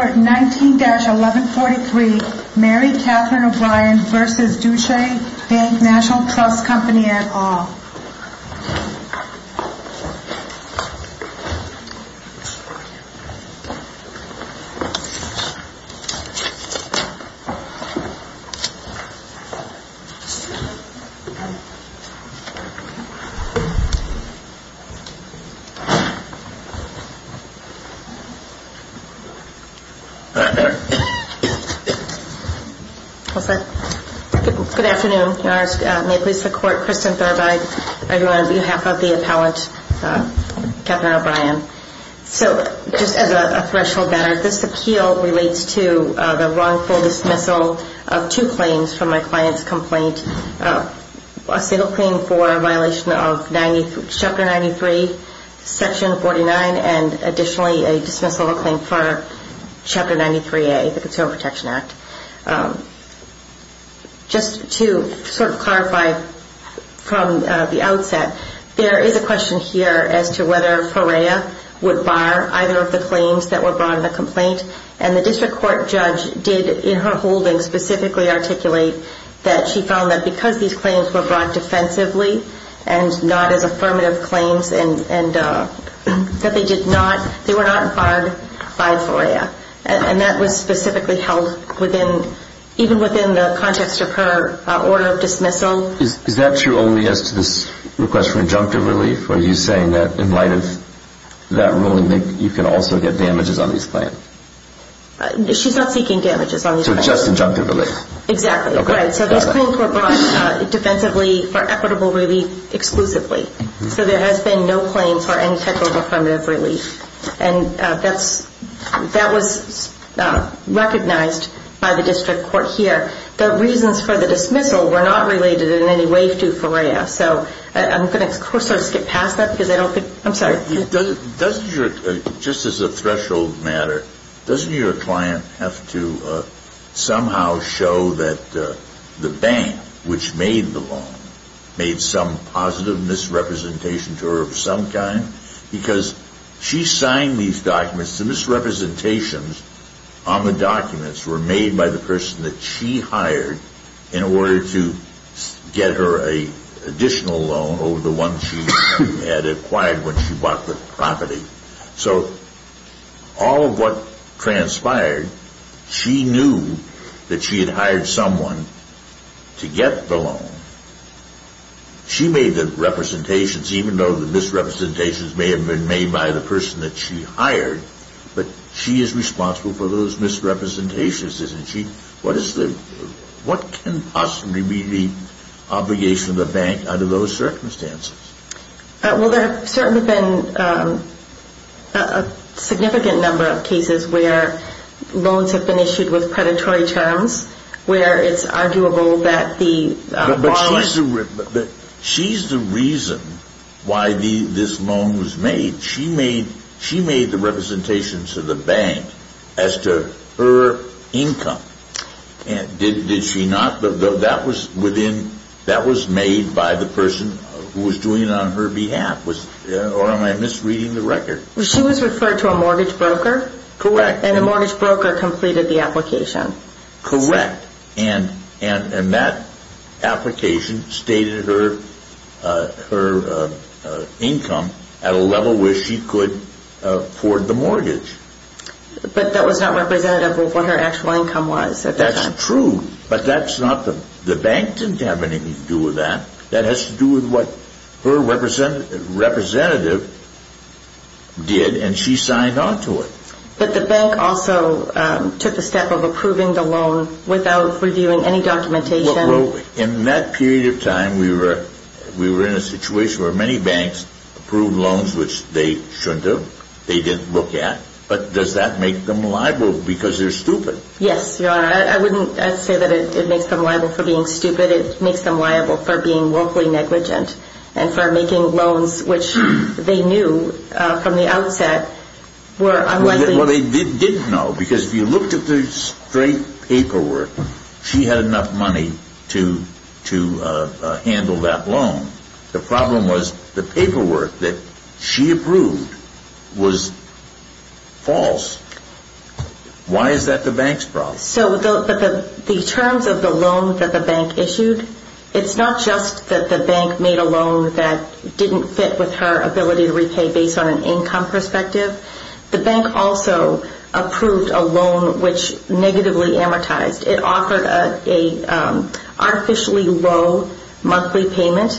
19-1143 Mary Catherine O'Brien v. Deutsche Bank Nat'l Trust Co. et al. Good afternoon. May it please the Court, Kristen Thurbide, on behalf of the appellant, Captain O'Brien. So just as a threshold matter, this appeal relates to the wrongful dismissal of two claims from my client's complaint, a single claim for a violation of Chapter 93, Section 49, and additionally a dismissal of a claim for Chapter 93A, the Consumer Protection Act. Just to sort of clarify from the outset, there is a question here as to whether FOREA would bar either of the claims that were brought in the complaint, and the district court judge did in her holding specifically articulate that she found that because these claims were brought defensively and not as affirmative claims and that they were not barred by FOREA. And that was specifically held even within the context of her order of dismissal. Is that true only as to this request for injunctive relief? Are you saying that in light of that ruling you can also get damages on these claims? She's not seeking damages on these claims. So just injunctive relief? Exactly, right. So those claims were brought defensively for equitable relief exclusively. So there has been no claims for any type of affirmative relief. And that was recognized by the district court here. The reasons for the dismissal were not related in any way to FOREA. So I'm going to sort of skip past that because I don't think – I'm sorry. Just as a threshold matter, doesn't your client have to somehow show that the bank, which made the loan, made some positive misrepresentation to her of some kind? Because she signed these documents. The misrepresentations on the documents were made by the person that she hired in order to get her an additional loan over the one she had acquired when she bought the property. So all of what transpired, she knew that she had hired someone to get the loan. She made the representations, even though the misrepresentations may have been made by the person that she hired. But she is responsible for those misrepresentations, isn't she? What can possibly be the obligation of the bank under those circumstances? Well, there have certainly been a significant number of cases where loans have been issued with predatory terms, where it's arguable that the borrowers – But she's the reason why this loan was made. She made the representations to the bank as to her income. Did she not? That was made by the person who was doing it on her behalf, or am I misreading the record? She was referred to a mortgage broker. Correct. And a mortgage broker completed the application. Correct. And that application stated her income at a level where she could afford the mortgage. But that was not representative of what her actual income was at that time. That's true, but the bank didn't have anything to do with that. That has to do with what her representative did, and she signed on to it. But the bank also took a step of approving the loan without reviewing any documentation. Well, in that period of time, we were in a situation where many banks approved loans which they shouldn't have. They didn't look at. But does that make them liable because they're stupid? Yes, Your Honor. I wouldn't say that it makes them liable for being stupid. I would say that it makes them liable for being willfully negligent and for making loans which they knew from the outset were unlikely. Well, they didn't know because if you looked at the straight paperwork, she had enough money to handle that loan. The problem was the paperwork that she approved was false. Why is that the bank's problem? So the terms of the loan that the bank issued, it's not just that the bank made a loan that didn't fit with her ability to repay based on an income perspective. The bank also approved a loan which negatively amortized. It offered an artificially low monthly payment,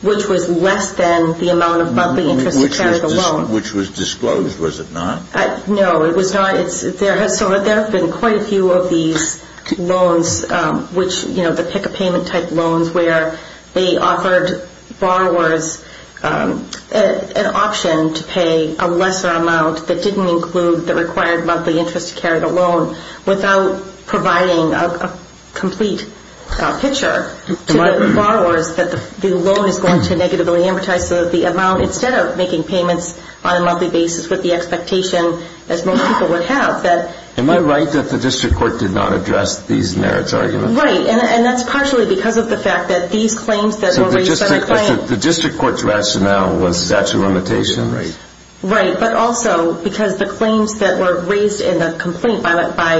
which was less than the amount of monthly interest to carry the loan. Which was disclosed, was it not? No, it was not. There have been quite a few of these loans, the pick-a-payment type loans, where they offered borrowers an option to pay a lesser amount that didn't include the required monthly interest to carry the loan without providing a complete picture to the borrowers that the loan is going to negatively amortize. Instead of making payments on a monthly basis with the expectation that most people would have. Am I right that the district court did not address these merits arguments? Right, and that's partially because of the fact that these claims that were raised by the client... The district court's rationale was statute of limitations? Right, but also because the claims that were raised in the complaint by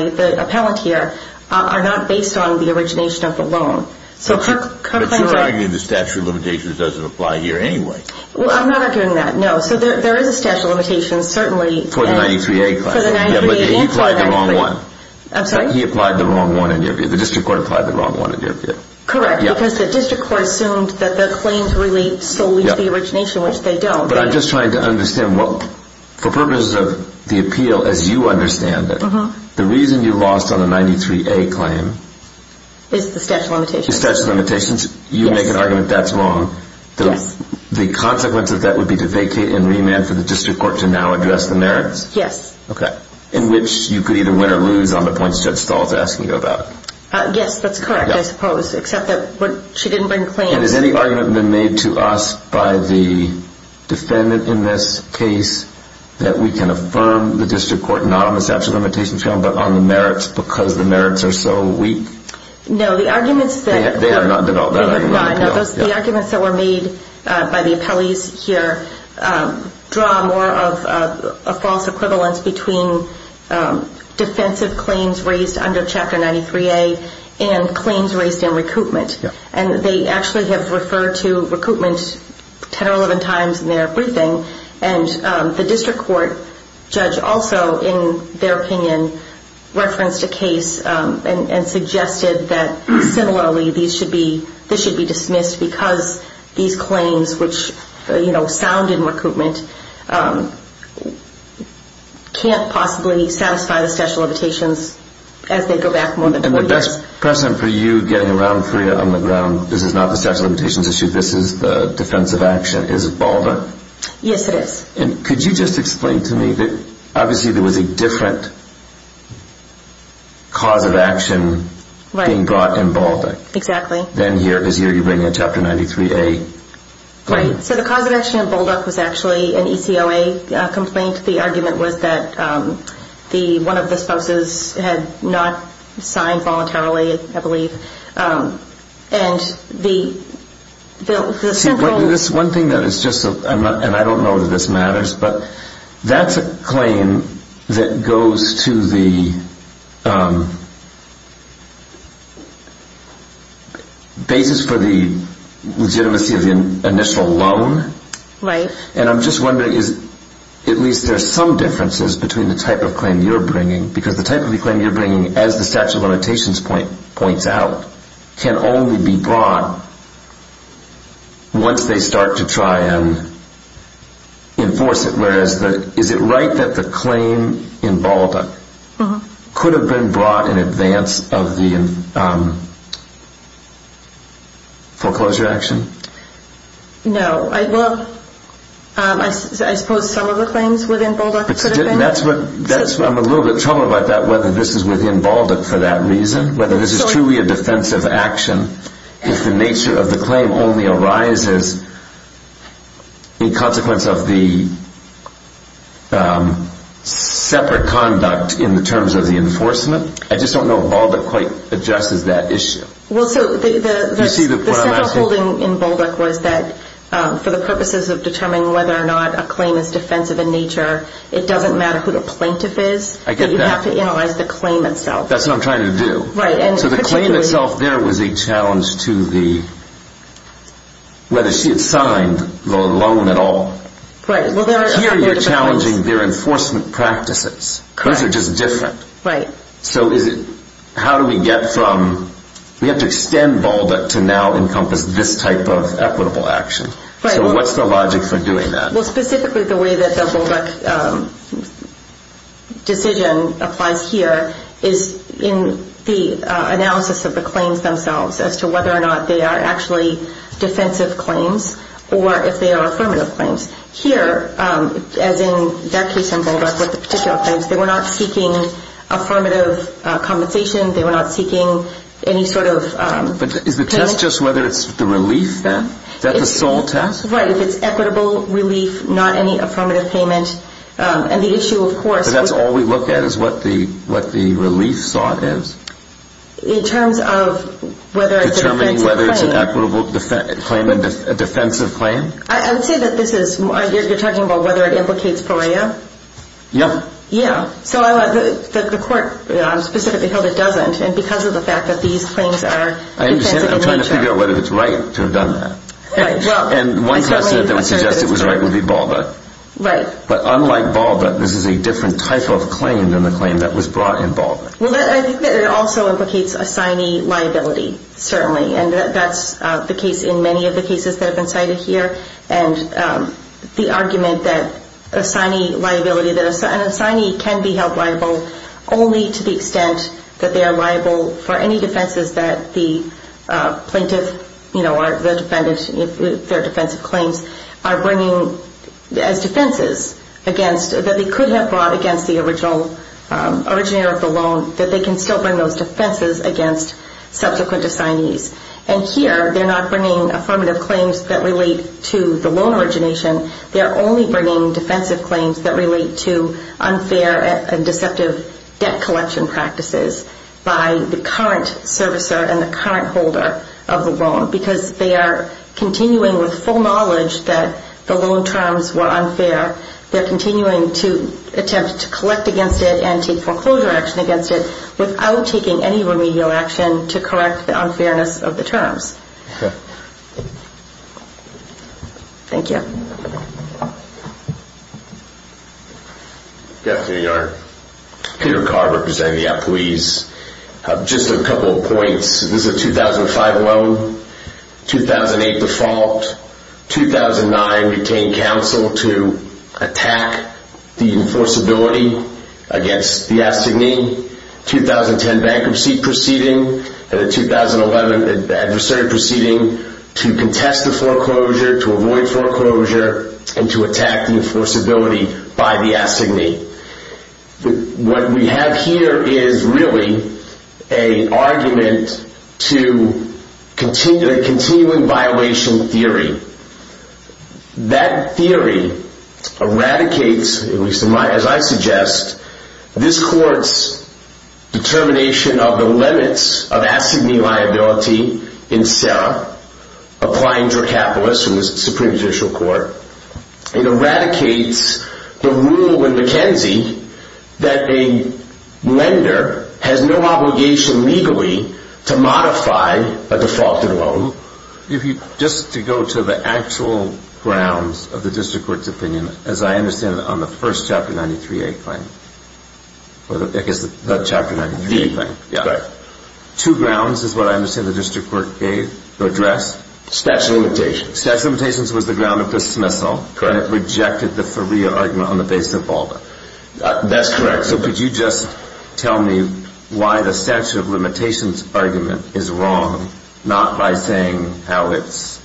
the appellant here are not based on the origination of the loan. But she's arguing the statute of limitations doesn't apply here anyway. Well, I'm not arguing that, no. So there is a statute of limitations, certainly. For the 93A claim. For the 93A claim. Yeah, but he applied the wrong one. I'm sorry? He applied the wrong one in your view. The district court applied the wrong one in your view. Correct, because the district court assumed that the claims relate solely to the origination, which they don't. But I'm just trying to understand what, for purposes of the appeal, as you understand it, the reason you lost on the 93A claim... Is the statute of limitations. Is the statute of limitations. You make an argument that's wrong. Yes. The consequence of that would be to vacate and remand for the district court to now address the merits? Yes. Okay. In which you could either win or lose on the points Judge Stahl is asking you about. Yes, that's correct, I suppose, except that she didn't bring claims. And has any argument been made to us by the defendant in this case that we can affirm the district court, not on the statute of limitations, but on the merits because the merits are so weak? No, the arguments that were made by the appellees here draw more of a false equivalence between defensive claims raised under Chapter 93A and claims raised in recoupment. And they actually have referred to recoupment 10 or 11 times in their briefing. And the district court judge also, in their opinion, referenced a case and suggested that similarly this should be dismissed because these claims, which sound in recoupment, can't possibly satisfy the statute of limitations as they go back. And the best precedent for you getting around CREA on the ground, this is not the statute of limitations issue, this is the defense of action, is BALDA. Yes, it is. And could you just explain to me that obviously there was a different cause of action being brought in BALDA. Exactly. Than here, because here you're bringing a Chapter 93A claim. Right, so the cause of action in BALDA was actually an ECOA complaint. And the argument was that one of the spouses had not signed voluntarily, I believe. See, one thing that is just, and I don't know whether this matters, but that's a claim that goes to the basis for the legitimacy of the initial loan. Right. And I'm just wondering, at least there are some differences between the type of claim you're bringing, because the type of claim you're bringing, as the statute of limitations points out, can only be brought once they start to try and enforce it. Whereas, is it right that the claim in BALDA could have been brought in advance of the foreclosure action? No. Well, I suppose some of the claims within BALDA could have been. I'm in a little bit of trouble about that, whether this is within BALDA for that reason, whether this is truly a defensive action if the nature of the claim only arises in consequence of the separate conduct in the terms of the enforcement. I just don't know if BALDA quite addresses that issue. Well, so the central holding in BALDA was that for the purposes of determining whether or not a claim is defensive in nature, it doesn't matter who the plaintiff is. I get that. You have to analyze the claim itself. That's what I'm trying to do. Right. So the claim itself there was a challenge to whether she had signed the loan at all. Right. Here you're challenging their enforcement practices. Those are just different. Right. So how do we get from we have to extend BALDA to now encompass this type of equitable action. Right. So what's the logic for doing that? Well, specifically the way that the BALDA decision applies here is in the analysis of the claims themselves as to whether or not they are actually defensive claims or if they are affirmative claims. Here, as in that case in BALDA with the particular claims, they were not seeking affirmative compensation. They were not seeking any sort of... But is the test just whether it's the relief then? Is that the sole test? Right. If it's equitable relief, not any affirmative payment. And the issue, of course... So that's all we look at is what the relief sought is? In terms of whether it's a defensive claim. Determining whether it's an equitable claim and a defensive claim? I would say that this is... You're talking about whether it implicates PARIA? Yeah. Yeah. So the court specifically held it doesn't. And because of the fact that these claims are defensive in nature... I understand that. I'm trying to figure out whether it's right to have done that. Right. And one precedent that would suggest it was right would be BALDA. Right. But unlike BALDA, this is a different type of claim than the claim that was brought in BALDA. Well, I think that it also implicates assignee liability, certainly. And that's the case in many of the cases that have been cited here. And the argument that assignee liability... An assignee can be held liable only to the extent that they are liable for any defenses that the plaintiff, you know, or the defendant, their defensive claims, are bringing as defenses against... that they could have brought against the originator of the loan, that they can still bring those defenses against subsequent assignees. And here, they're not bringing affirmative claims that relate to the loan origination. They are only bringing defensive claims that relate to unfair and deceptive debt collection practices by the current servicer and the current holder of the loan. Because they are continuing with full knowledge that the loan terms were unfair. They're continuing to attempt to collect against it and take foreclosure action against it without taking any remedial action to correct the unfairness of the terms. Thank you. Good afternoon, Your Honor. Peter Carr, representing the employees. Just a couple of points. This is a 2005 loan. 2008 default. 2009, we obtained counsel to attack the enforceability against the assignee. 2010 bankruptcy proceeding. And the 2011 adversary proceeding to contest the foreclosure, to avoid foreclosure, and to attack the enforceability by the assignee. What we have here is really an argument to a continuing violation theory. That theory eradicates, at least as I suggest, this court's determination of the limits of assignee liability in CERA, applying to a capitalist in the Supreme Judicial Court. It eradicates the rule in McKenzie that a lender has no obligation legally to modify a defaulted loan. Just to go to the actual grounds of the district court's opinion, as I understand it on the first Chapter 93A claim. The Chapter 93A claim. Correct. Two grounds is what I understand the district court gave or addressed. Stats and limitations. Stats and limitations was the ground of dismissal. Correct. And it rejected the Faria argument on the basis of Balda. That's correct. So could you just tell me why the statute of limitations argument is wrong, not by saying how it's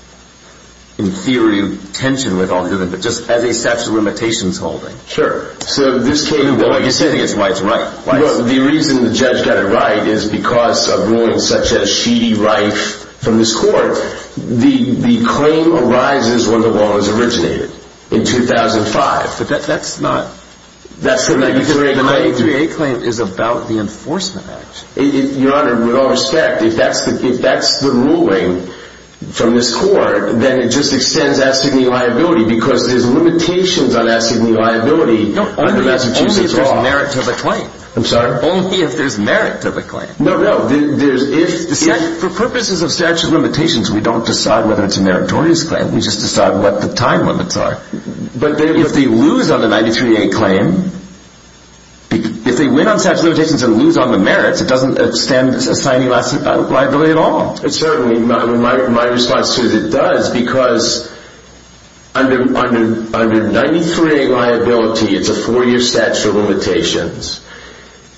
in theory tension with all given, but just as a statute of limitations holding. Sure. So this case, like you say, I think it's White's right. Well, the reason the judge got it right is because of rulings such as Sheedy-Reif from this court. The claim arises when the law was originated in 2005. But that's not. That's the 93A claim. The 93A claim is about the Enforcement Act. Your Honor, with all respect, if that's the ruling from this court, then it just extends assignee liability because there's limitations on assignee liability under Massachusetts law. No, only if there's merit to the claim. I'm sorry? Only if there's merit to the claim. No, no. For purposes of statute of limitations, we don't decide whether it's a meritorious claim. We just decide what the time limits are. But if they lose on the 93A claim, if they win on statute of limitations and lose on the merits, it doesn't extend assignee liability at all. Certainly, my response to it is it does because under 93A liability, it's a four-year statute of limitations.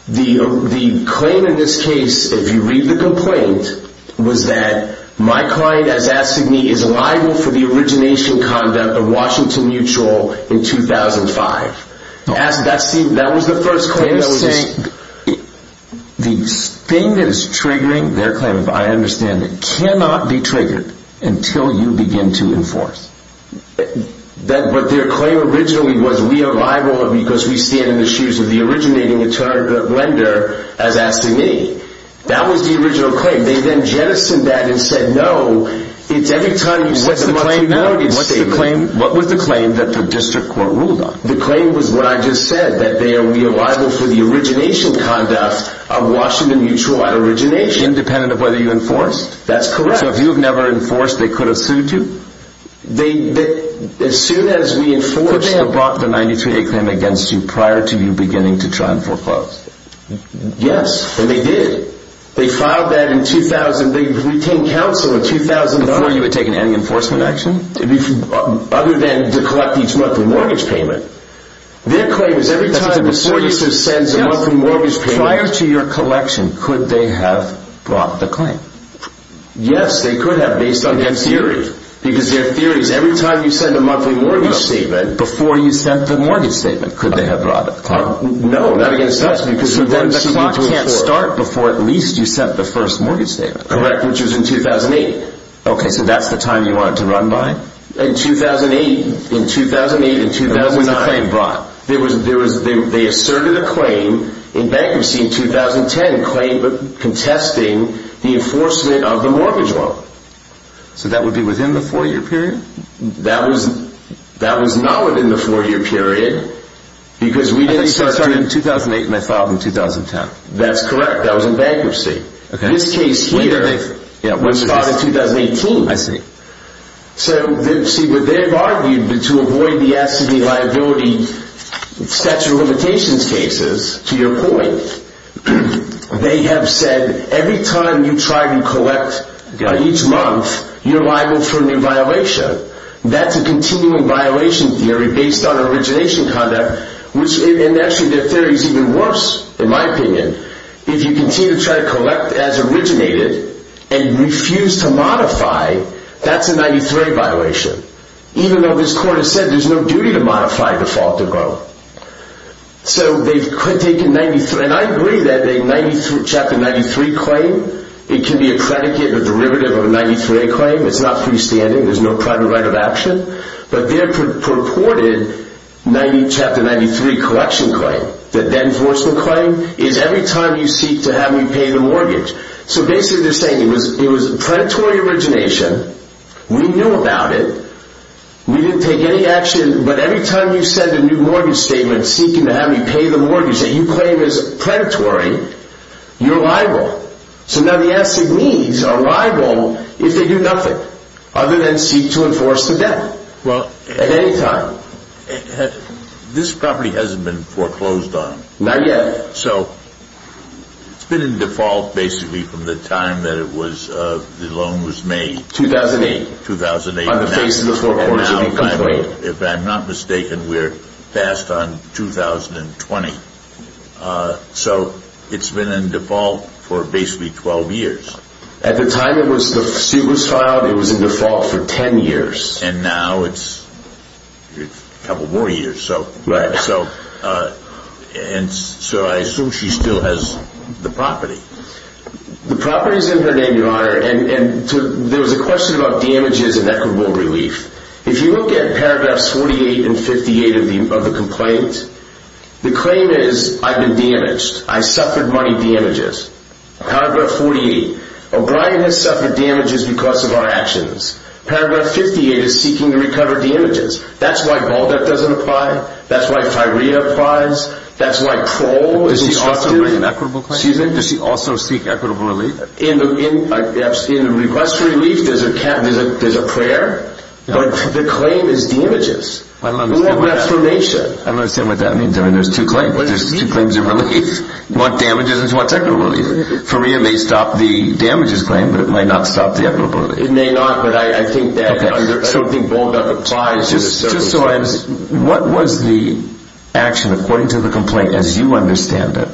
The claim in this case, if you read the complaint, was that my client, as assignee, is liable for the origination conduct of Washington Mutual in 2005. That was the first claim. The thing that is triggering their claim, I understand, cannot be triggered until you begin to enforce. But their claim originally was we are liable because we stand in the shoes of the originating attorney lender as assignee. That was the original claim. They then jettisoned that and said, no, it's every time you set the monthly mortgage. What was the claim that the district court ruled on? The claim was what I just said, that they are liable for the origination conduct of Washington Mutual at origination. Independent of whether you enforced? That's correct. So if you have never enforced, they could have sued you? Could they have brought the 93A claim against you prior to you beginning to try and foreclose? Yes. And they did. They filed that in 2000. They retained counsel in 2000. Before you had taken any enforcement action? Other than to collect each monthly mortgage payment. Their claim is every time the services sends a monthly mortgage payment. Prior to your collection, could they have brought the claim? Yes, they could have based on their theories. Because their theory is every time you send a monthly mortgage statement. Before you sent the mortgage statement, could they have brought the claim? No, not against us. Because then the clock can't start before at least you sent the first mortgage statement. Correct, which was in 2008. Okay, so that's the time you wanted to run by? In 2008. In 2008 and 2009. What was the claim brought? They asserted a claim in bankruptcy in 2010, a claim contesting the enforcement of the mortgage loan. So that would be within the 4-year period? That was not within the 4-year period. Because we didn't start... I think they started in 2008 and I filed in 2010. That's correct, that was in bankruptcy. This case here was filed in 2018. I see. So, see, what they've argued to avoid the as-to-be liability statute of limitations cases, to your point, they have said every time you try to collect each month, you're liable for a new violation. That's a continuing violation theory based on origination conduct, and actually their theory is even worse, in my opinion, if you continue to try to collect as originated and refuse to modify, that's a 93A violation. Even though this court has said there's no duty to modify a defaulted loan. So they've taken 93... and I agree that a Chapter 93 claim, it can be a predicate, a derivative of a 93A claim, it's not freestanding, there's no private right of action, but their purported Chapter 93 collection claim, the then-enforcement claim, is every time you seek to have me pay the mortgage. So basically they're saying it was predatory origination, we knew about it, we didn't take any action, but every time you send a new mortgage statement seeking to have me pay the mortgage that you claim is predatory, you're liable. So now the asset needs are liable if they do nothing, other than seek to enforce the debt. At any time. This property hasn't been foreclosed on. Not yet. So it's been in default, basically, from the time that the loan was made. 2008. 2008. On the face of the foreclosure. If I'm not mistaken, we're passed on 2020. So it's been in default for basically 12 years. At the time it was filed, it was in default for 10 years. And now it's a couple more years. Right. And so I assume she still has the property. The property is in her name, Your Honor, and there was a question about damages and equitable relief. If you look at paragraphs 48 and 58 of the complaint, the claim is, I've been damaged. I suffered money damages. Paragraph 48. O'Brien has suffered damages because of our actions. Paragraph 58 is seeking to recover damages. That's why ball debt doesn't apply. That's why Tyria applies. That's why parole is instructed. Does she also make an equitable claim? Excuse me? Does she also seek equitable relief? In the request for relief, there's a prayer, but the claim is damages. I don't understand what that means. I mean, there's two claims. There's two claims of relief. You want damages and you want equitable relief. Tyria may stop the damages claim, but it might not stop the equitable relief. It may not, but I think that something bolder applies. Just so I understand, what was the action, according to the complaint, as you understand it,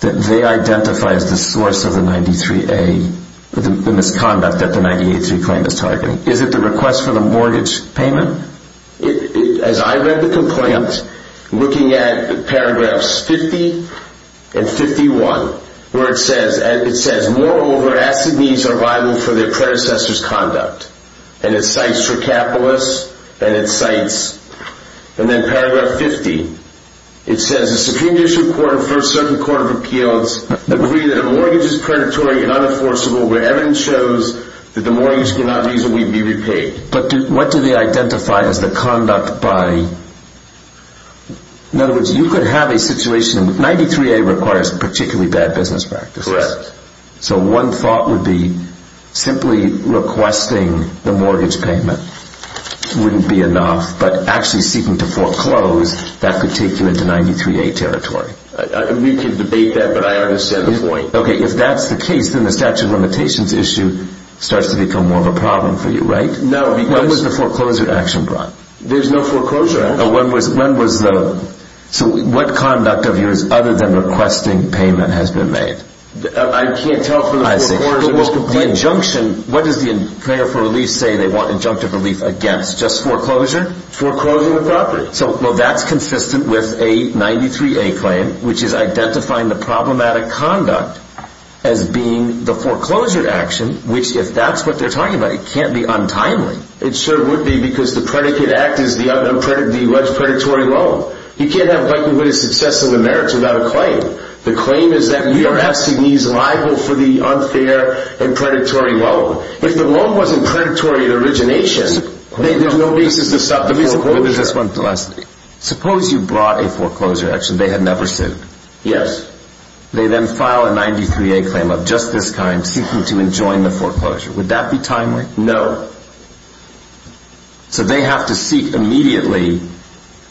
that they identify as the source of the 93A, the misconduct that the 93A claim is targeting? Is it the request for the mortgage payment? As I read the complaint, looking at paragraphs 50 and 51, where it says, Moreover, acid needs are liable for their predecessor's conduct. And it cites Tricapolis and it cites, and then paragraph 50, it says, The Supreme Judicial Court and First Circuit Court of Appeals agree that a mortgage is predatory and unenforceable where evidence shows that the mortgage cannot reasonably be repaid. But what do they identify as the conduct by? In other words, you could have a situation, 93A requires particularly bad business practices. Correct. So one thought would be, simply requesting the mortgage payment wouldn't be enough, but actually seeking to foreclose, that could take you into 93A territory. We could debate that, but I understand the point. Okay, if that's the case, then the statute of limitations issue starts to become more of a problem for you, right? No, because... When was the foreclosure action brought? There's no foreclosure. When was the... So what conduct of yours, other than requesting payment, has been made? I can't tell from the foreclosure claim. The injunction, what does the preparer for relief say they want injunctive relief against? Just foreclosure? Foreclosure of the property. So that's consistent with a 93A claim, which is identifying the problematic conduct as being the foreclosure action, which, if that's what they're talking about, it can't be untimely. It sure would be, because the predicate act is the predatory loan. You can't have likelihood of success of the merits without a claim. The claim is that we are asking these liable for the unfair and predatory loan. If the loan wasn't predatory at origination, then there's no basis to stop the foreclosure. Let me suppose... Suppose you brought a foreclosure action they had never sued. Yes. They then file a 93A claim of just this kind, seeking to enjoin the foreclosure. Would that be timely? No. So they have to seek immediately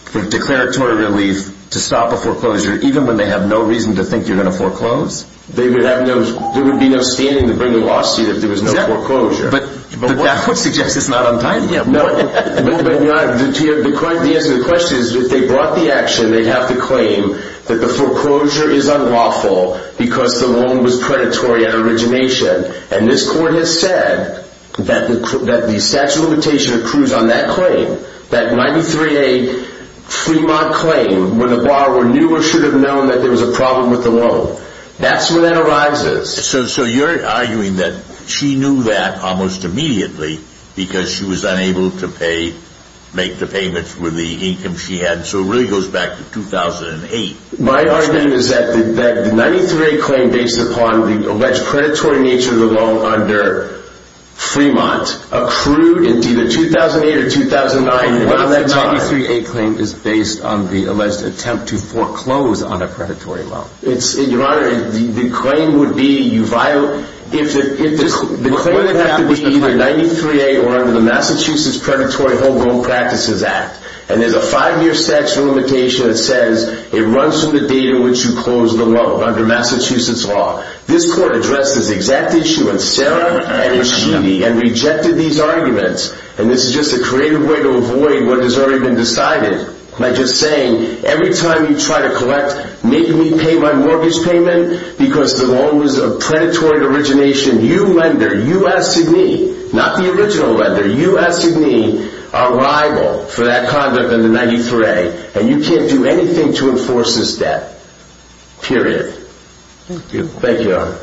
for declaratory relief to stop a foreclosure, even when they have no reason to think you're going to foreclose? There would be no standing to bring a lawsuit if there was no foreclosure. But that would suggest it's not untimely. No. The answer to the question is if they brought the action, they'd have to claim that the foreclosure is unlawful because the loan was predatory at origination. And this court has said that the statute of limitation accrues on that claim, that 93A Fremont claim, when the borrower knew or should have known that there was a problem with the loan. That's where that arises. So you're arguing that she knew that almost immediately because she was unable to pay, make the payments with the income she had. So it really goes back to 2008. My argument is that the 93A claim based upon the alleged predatory nature of the loan under Fremont accrued in either 2008 or 2009. Well, that 93A claim is based on the alleged attempt to foreclose on a predatory loan. Your Honor, the claim would be you violated... The claim would have to be either 93A or under the Massachusetts Predatory Home Loan Practices Act. And there's a five-year statute of limitation that says it runs from the date on which you closed the loan under Massachusetts law. This court addressed this exact issue with Sarah and Rashidi and rejected these arguments. And this is just a creative way to avoid what has already been decided by just saying, every time you try to collect make me pay my mortgage payment because the loan was of predatory origination. You lender, you as Sidney, not the original lender, you as Sidney are liable for that conduct in the 93A Period. Thank you. Thank you, Your Honor.